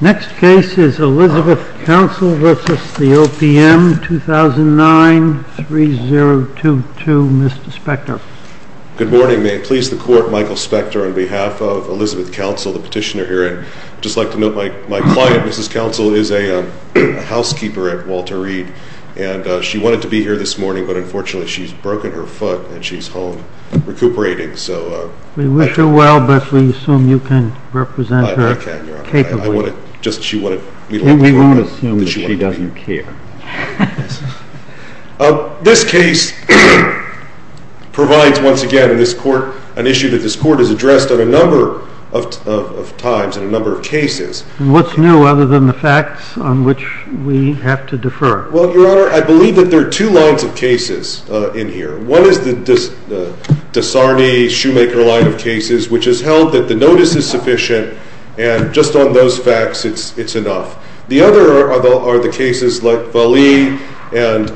Next case is Elizabeth Council v. OPM 2009-3022. Mr. Spector. Good morning. May it please the Court, Michael Spector on behalf of Elizabeth Council, the petitioner herein. I'd just like to note my client, Mrs. Council, is a housekeeper at Walter Reed. She wanted to be here this morning, but unfortunately she's broken her foot and she's home recuperating. We wish her well, but we assume you can represent her capably. We won't assume that she doesn't care. This case provides, once again, an issue that this Court has addressed a number of times in a number of cases. What's new other than the facts on which we have to defer? Well, Your Honor, I believe that there are two lines of cases in here. One is the Dasarny-Shoemaker line of cases, which has held that the notice is sufficient and just on those facts it's enough. The other are the cases like Vallee and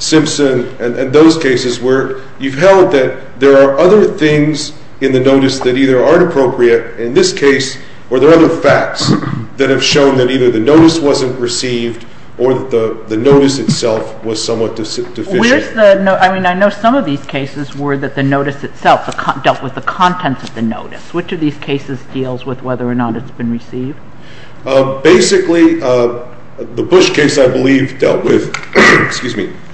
Simpson and those cases where you've held that there are other things in the notice that either aren't appropriate in this case or there are other facts that have shown that either the notice wasn't received or that the notice itself was somewhat deficient. I mean, I know some of these cases were that the notice itself dealt with the contents of the notice. Which of these cases deals with whether or not it's been received? Basically, the Bush case, I believe, dealt with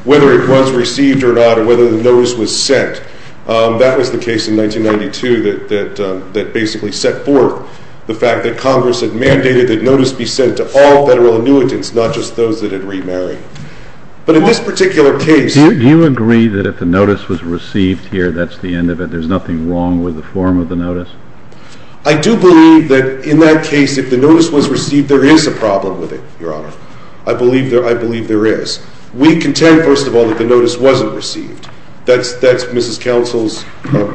whether it was received or not or whether the notice was sent. That was the case in 1992 that basically set forth the fact that Congress had mandated that notice be sent to all federal annuitants, not just those that had remarried. But in this particular case... Do you agree that if the notice was received here, that's the end of it? There's nothing wrong with the form of the notice? I do believe that in that case, if the notice was received, there is a problem with it, Your Honor. I believe there is. We contend, first of all, that the notice wasn't received. That's Mrs. Counsel's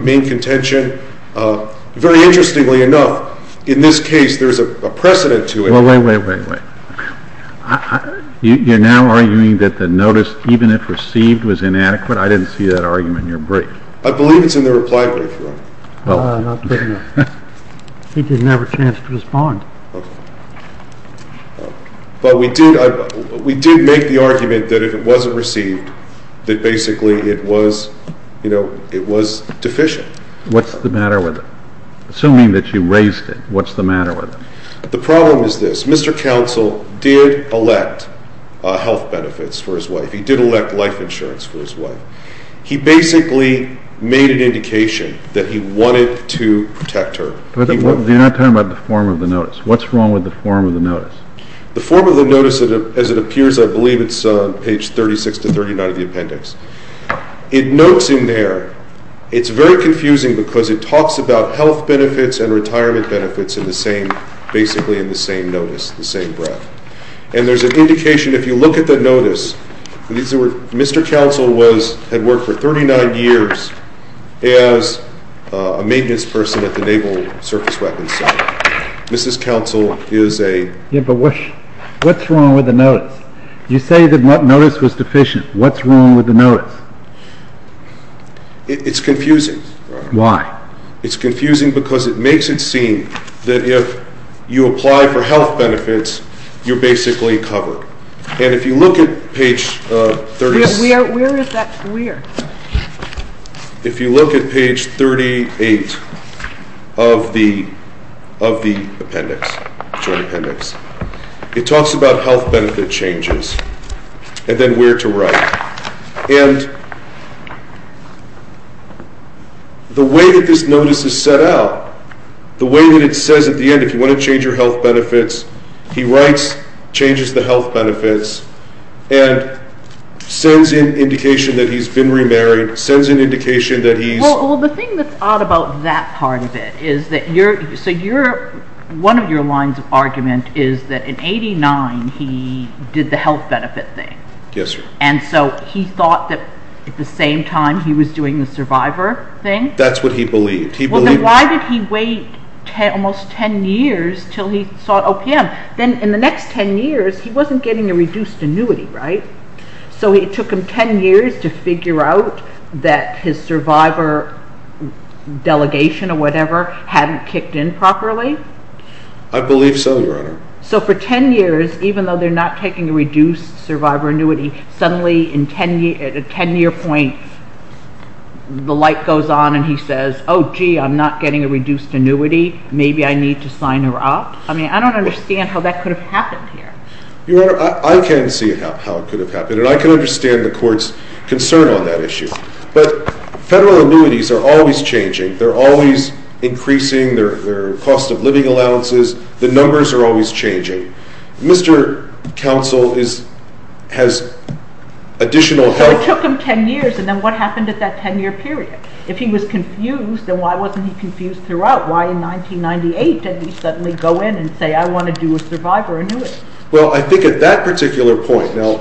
main contention. Very interestingly enough, in this case, there's a precedent to it. Well, wait, wait, wait, wait. You're now arguing that the notice, even if received, was inadequate? I didn't see that argument in your brief. I believe it's in the reply brief, Your Honor. He didn't have a chance to respond. But we did make the argument that if it wasn't received, that basically it was deficient. What's the matter with it? Assuming that you raised it, what's the matter with it? The problem is this. Mr. Counsel did elect health benefits for his wife. He did elect life insurance for his wife. He basically made an indication that he wanted to protect her. You're not talking about the form of the notice. What's wrong with the form of the notice? The form of the notice, as it appears, I believe it's on page 36 to 39 of the appendix. It notes in there, it's very confusing because it talks about health benefits and retirement benefits in the same, basically in the same notice, the same breath. And there's an indication, if you look at the notice, Mr. Counsel had worked for 39 years as a maintenance person at the Naval Surface Weapons Center. Mrs. Counsel is a Yeah, but what's wrong with the notice? You say that notice was deficient. What's wrong with the notice? It's confusing. Why? It's confusing because it makes it seem that if you apply for health benefits, you're basically covered. And if you look at page 36 Where is that? Where? If you look at page 38 of the appendix, joint appendix, it talks about health benefit changes and then where to write. And the way that this notice is set out, the way that it says at the end, if you want to change your health benefits, he writes, changes the health benefits and sends an indication that he's been remarried, sends an indication that he's Well, the thing that's odd about that part of it is that you're, so you're, one of your lines of argument is that in 89, he did the health benefit thing. Yes, sir. And so he thought that at the same time he was doing the survivor thing. That's what he believed. Well, then why did he wait almost 10 years till he saw OPM? Then in the next 10 years, he wasn't getting a reduced annuity, right? So it took him 10 years to figure out that his survivor delegation or whatever hadn't kicked in properly? I believe so, Your Honor. So for 10 years, even though they're not taking a reduced survivor annuity, suddenly at a 10-year point, the light goes on and he says, oh, gee, I'm not getting a reduced annuity. Maybe I need to sign her up. I mean, I don't understand how that could have happened here. Your Honor, I can see how it could have happened, and I can understand the Court's concern on that issue. But federal annuities are always changing. They're always increasing their cost of living allowances. The numbers are always changing. Mr. Counsel has additional help. It took him 10 years, and then what happened at that 10-year period? If he was confused, then why wasn't he confused throughout? Why in 1998 did he suddenly go in and say, I want to do a survivor annuity? Well, I think at that particular point, now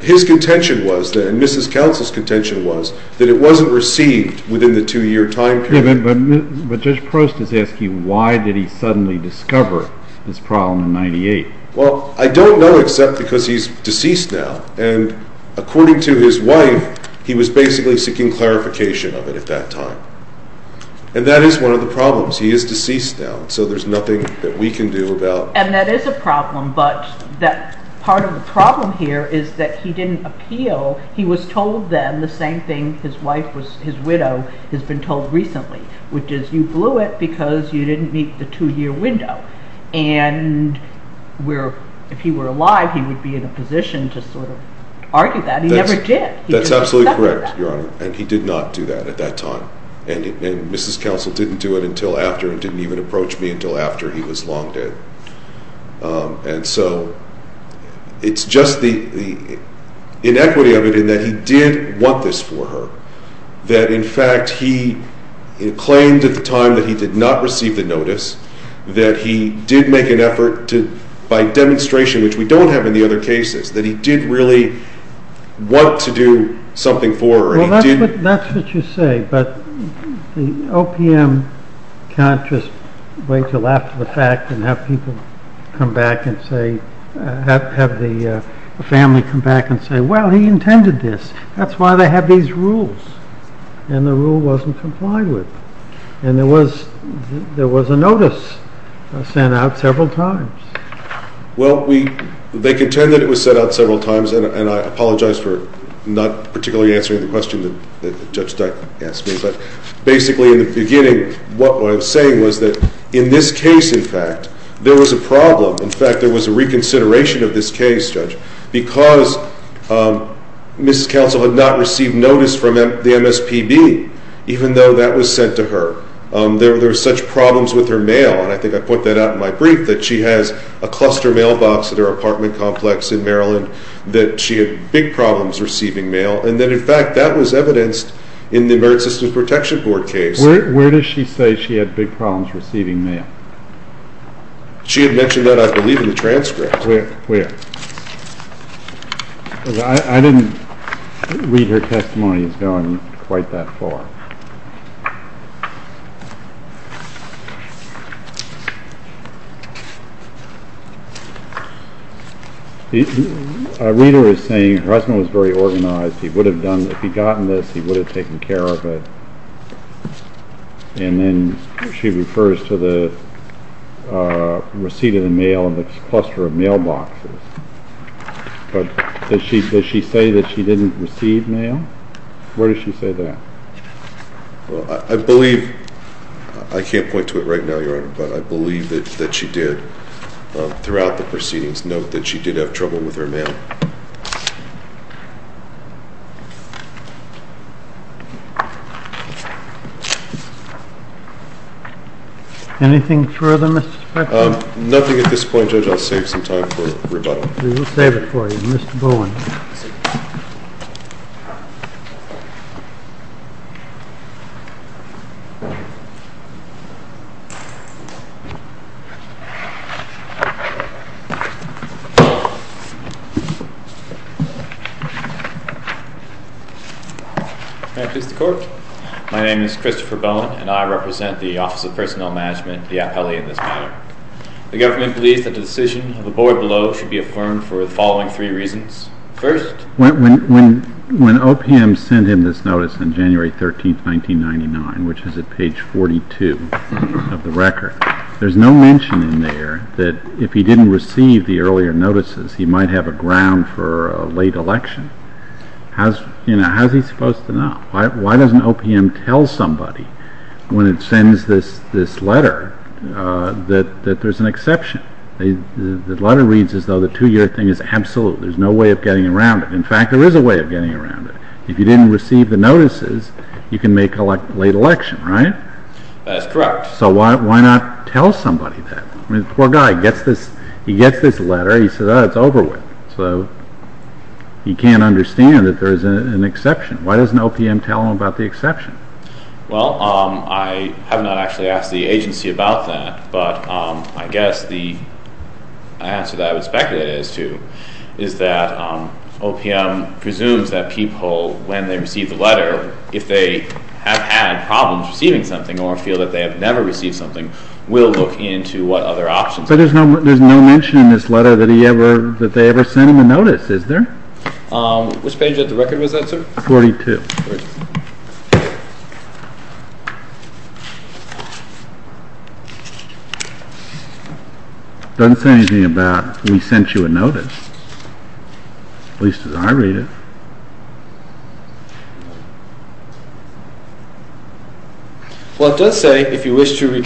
his contention was, and Mrs. Counsel's contention was, that it wasn't received within the 2-year time period. But Judge Prost is asking, why did he suddenly discover this problem in 1998? Well, I don't know except because he's deceased now, and according to his wife, he was basically seeking clarification of it at that time. And that is one of the problems. He is deceased now, so there's nothing that we can do about it. And that is a problem, but part of the problem here is that he didn't appeal. He was told then the same thing his wife, his widow, has been told recently, which is you blew it because you didn't meet the 2-year window. And if he were alive, he would be in a position to sort of argue that. He never did. That's absolutely correct, Your Honor, and he did not do that at that time. And Mrs. Counsel didn't do it until after and didn't even approach me until after he was long dead. And so it's just the inequity of it in that he did want this for her, that in fact he claimed at the time that he did not receive the notice, that he did make an effort by demonstration, which we don't have in the other cases, that he did really want to do something for her. Well, that's what you say, but the OPM can't just wait until after the fact and have people come back and say, have the family come back and say, well, he intended this. That's why they have these rules, and the rule wasn't complied with. And there was a notice sent out several times. Well, they contend that it was sent out several times, and I apologize for not particularly answering the question that Judge Dyke asked me, but basically in the beginning what I was saying was that in this case, in fact, there was a problem. In fact, there was a reconsideration of this case, Judge, because Mrs. Counsel had not received notice from the MSPB, even though that was sent to her. There were such problems with her mail, and I think I point that out in my brief, that she has a cluster mailbox at her apartment complex in Maryland, that she had big problems receiving mail, and that, in fact, that was evidenced in the Emergency System Protection Board case. Where does she say she had big problems receiving mail? She had mentioned that, I believe, in the transcript. Where? I didn't read her testimony. It's gone quite that far. Our reader is saying her husband was very organized. If he had gotten this, he would have taken care of it. And then she refers to the receipt of the mail in the cluster of mailboxes. But does she say that she didn't receive mail? Where does she say that? Well, I believe, I can't point to it right now, Your Honor, but I believe that she did throughout the proceedings note that she did have trouble with her mail. Anything further, Mr. Patrick? Nothing at this point, Judge. I'll save some time for rebuttal. We will save it for you. Mr. Bowen. Thank you. May I please the Court? My name is Christopher Bowen, and I represent the Office of Personnel Management, the APELI, in this matter. The government believes that the decision of the Board below should be affirmed for the following three reasons. First, when OPM sent him this notice on January 13, 1999, which is at page 42 of the record, there's no mention in there that if he didn't receive the earlier notices, he might have a ground for a late election. How's he supposed to know? Why doesn't OPM tell somebody when it sends this letter that there's an exception? The letter reads as though the two-year thing is absolute. There's no way of getting around it. In fact, there is a way of getting around it. If you didn't receive the notices, you can make a late election, right? That's correct. So why not tell somebody that? I mean, the poor guy, he gets this letter. He says, oh, it's over with. So he can't understand that there is an exception. Why doesn't OPM tell him about the exception? Well, I have not actually asked the agency about that, but I guess the answer that I would speculate is to is that OPM presumes that people, when they receive the letter, if they have had problems receiving something or feel that they have never received something, will look into what other options they have. But there's no mention in this letter that they ever sent him a notice, is there? Which page of the record was that, sir? 42. It doesn't say anything about, we sent you a notice, at least as I read it. Well, it does say, if you wish to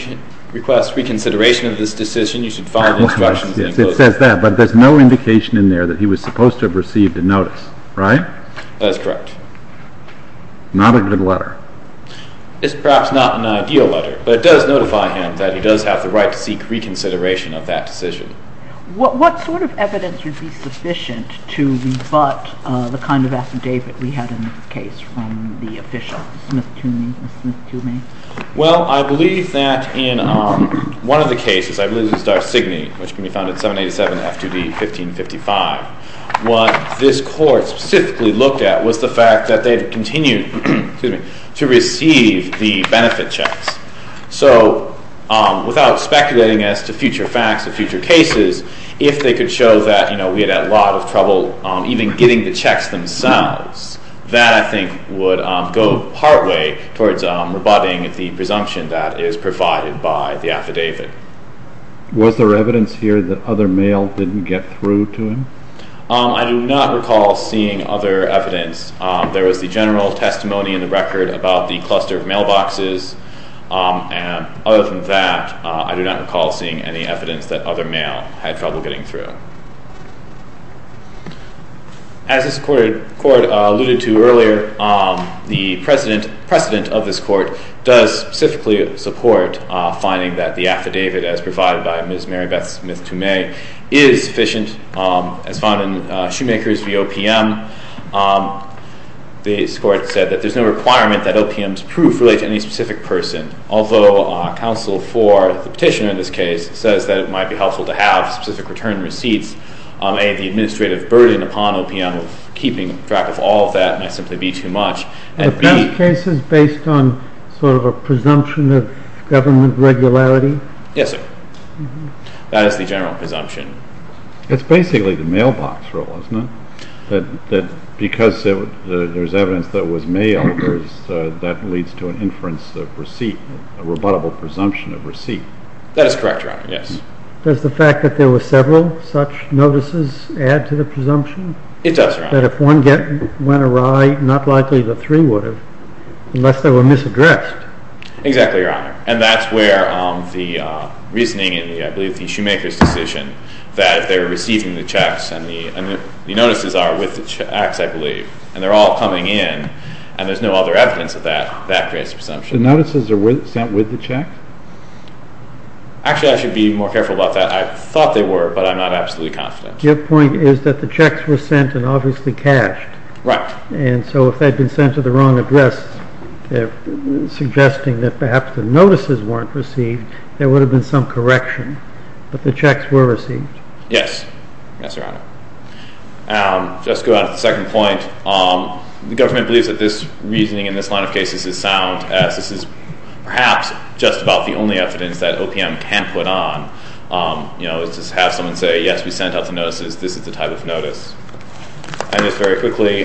request reconsideration of this decision, you should follow the instructions. It says that, but there's no indication in there that he was supposed to have received a notice, right? That is correct. Not a good letter. It's perhaps not an ideal letter, but it does notify him that he does have the right to seek reconsideration of that decision. What sort of evidence would be sufficient to rebut the kind of affidavit we had in this case from the official, Smith-Toomey? Well, I believe that in one of the cases, I believe it was D'Arcygny, which can be found in 787 F2D 1555, what this court specifically looked at was the fact that they had continued to receive the benefit checks. So, without speculating as to future facts of future cases, if they could show that, you know, we had had a lot of trouble even getting the checks themselves, that I think would go partway towards rebutting the presumption that is provided by the affidavit. Was there evidence here that other mail didn't get through to him? I do not recall seeing other evidence. There was the general testimony in the record about the cluster of mailboxes, and other than that, I do not recall seeing any evidence that other mail had trouble getting through. As this court alluded to earlier, the precedent of this court does specifically support finding that the affidavit as provided by Ms. Mary Beth Smith-Toomey is sufficient as found in Shoemakers v. OPM. This court said that there's no requirement that OPM's proof relate to any specific person, although counsel for the petitioner in this case says that it might be helpful to have specific return receipts. A, the administrative burden upon OPM of keeping track of all of that might simply be too much. Is this case based on sort of a presumption of government regularity? Yes, sir. That is the general presumption. It's basically the mailbox rule, isn't it? That because there's evidence that was mailed, that leads to an inference of receipt, a rebuttable presumption of receipt. That is correct, Your Honor, yes. Does the fact that there were several such notices add to the presumption? It does, Your Honor. That if one went awry, not likely the three would have, unless they were misaddressed. Exactly, Your Honor. And that's where the reasoning in the, I believe, the Shoemakers decision, that they're receiving the checks and the notices are with the checks, I believe. And they're all coming in, and there's no other evidence that that creates a presumption. The notices are sent with the checks? Actually, I should be more careful about that. I thought they were, but I'm not absolutely confident. Your point is that the checks were sent and obviously cashed. Right. And so if they'd been sent to the wrong address, suggesting that perhaps the notices weren't received, there would have been some correction. But the checks were received. Yes. Yes, Your Honor. Just to go out to the second point, the government believes that this reasoning in this line of cases is sound, as this is perhaps just about the only evidence that OPM can put on, you know, is to have someone say, yes, we sent out the notices. This is the type of notice. And just very quickly,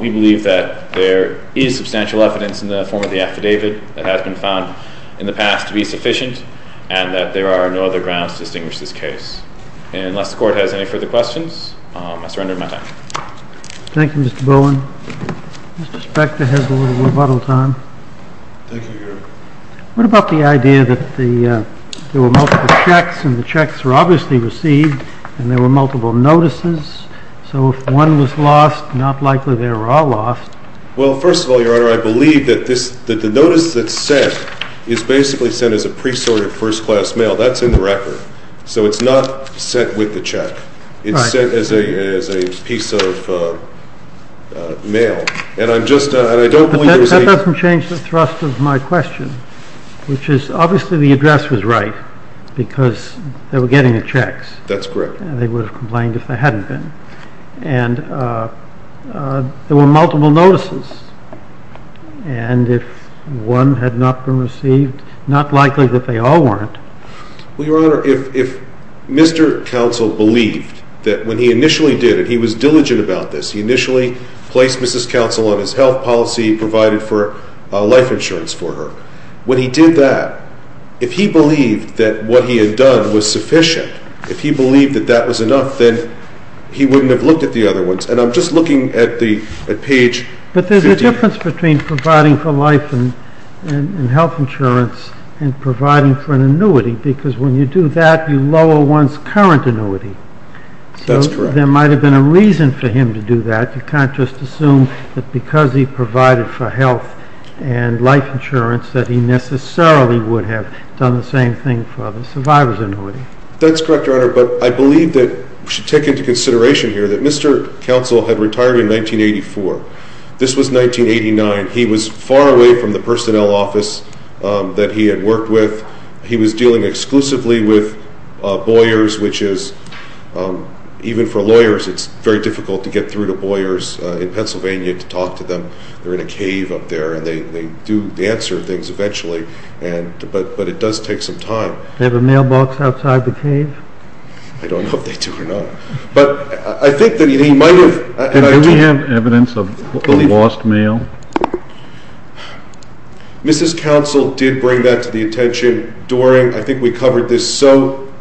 we believe that there is substantial evidence in the form of the affidavit that has been found in the past to be sufficient and that there are no other grounds to distinguish this case. And unless the Court has any further questions, I surrender my time. Thank you, Mr. Bowen. Mr. Spector has a little rebuttal time. Thank you, Your Honor. What about the idea that there were multiple checks, and the checks were obviously received, and there were multiple notices? So if one was lost, not likely they were all lost. Well, first of all, Your Honor, I believe that the notice that's sent is basically sent as a pre-sorted first-class mail. That's in the record. So it's not sent with the check. It's sent as a piece of mail. But that doesn't change the thrust of my question, which is obviously the address was right because they were getting the checks. That's correct. And they would have complained if they hadn't been. And there were multiple notices. And if one had not been received, not likely that they all weren't. Well, Your Honor, if Mr. Counsel believed that when he initially did it, and he was diligent about this, he initially placed Mrs. Counsel on his health policy, provided for life insurance for her. When he did that, if he believed that what he had done was sufficient, if he believed that that was enough, then he wouldn't have looked at the other ones. And I'm just looking at page 58. But there's a difference between providing for life and health insurance and providing for an annuity because when you do that, you lower one's current annuity. That's correct. So there might have been a reason for him to do that. You can't just assume that because he provided for health and life insurance that he necessarily would have done the same thing for the survivor's annuity. That's correct, Your Honor. But I believe that we should take into consideration here that Mr. Counsel had retired in 1984. This was 1989. He was far away from the personnel office that he had worked with. He was dealing exclusively with Boyers, which is, even for lawyers, it's very difficult to get through to Boyers in Pennsylvania to talk to them. They're in a cave up there, and they do answer things eventually. But it does take some time. Do they have a mailbox outside the cave? I don't know if they do or not. But I think that he might have. And do we have evidence of a lost mail? Mrs. Counsel did bring that to the attention during, I think we covered this so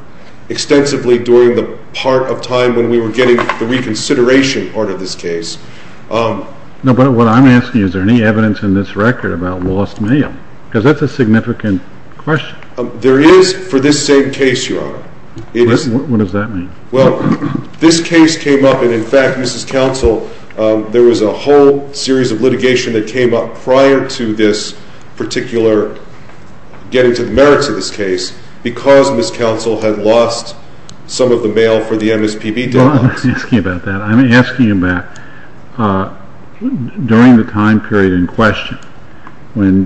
extensively during the part of time when we were getting the reconsideration part of this case. No, but what I'm asking is, is there any evidence in this record about lost mail? Because that's a significant question. There is for this same case, Your Honor. What does that mean? Well, this case came up, and in fact, Mrs. Counsel, there was a whole series of litigation that came up prior to this particular getting to the merits of this case, because Mrs. Counsel had lost some of the mail for the MSPB documents. Well, I'm not asking you about that. I'm asking you about during the time period in question, when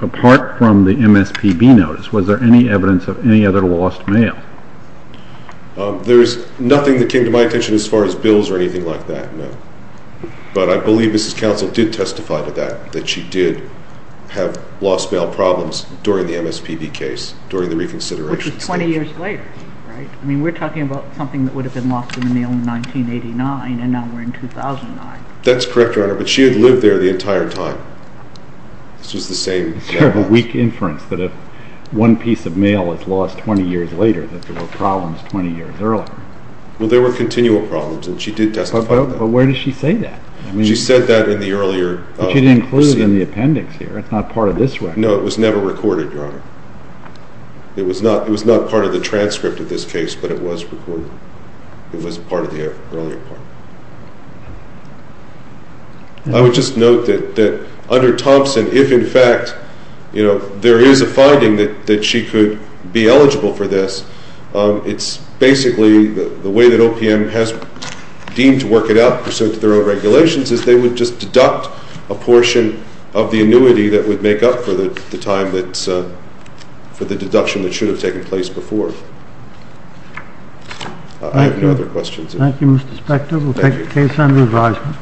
apart from the MSPB notice, was there any evidence of any other lost mail? There's nothing that came to my attention as far as bills or anything like that, no. But I believe Mrs. Counsel did testify to that, that she did have lost mail problems during the MSPB case, during the reconsideration stage. Which was 20 years later, right? I mean, we're talking about something that would have been lost in the mail in 1989, and now we're in 2009. That's correct, Your Honor, but she had lived there the entire time. It's just the same. It's sort of a weak inference that if one piece of mail is lost 20 years later, that there were problems 20 years earlier. Well, there were continual problems, and she did testify to that. But where does she say that? She said that in the earlier receipt. But you didn't include it in the appendix here. It's not part of this record. No, it was never recorded, Your Honor. It was not part of the transcript of this case, but it was recorded. It was part of the earlier part. I would just note that under Thompson, if, in fact, you know, there is a finding that she could be eligible for this, it's basically the way that OPM has deemed to work it out, pursuant to their own regulations, is they would just deduct a portion of the annuity that would make up for the time that's for the deduction that should have taken place before. I have no other questions. Thank you, Mr. Spector. We'll take the case under advisement.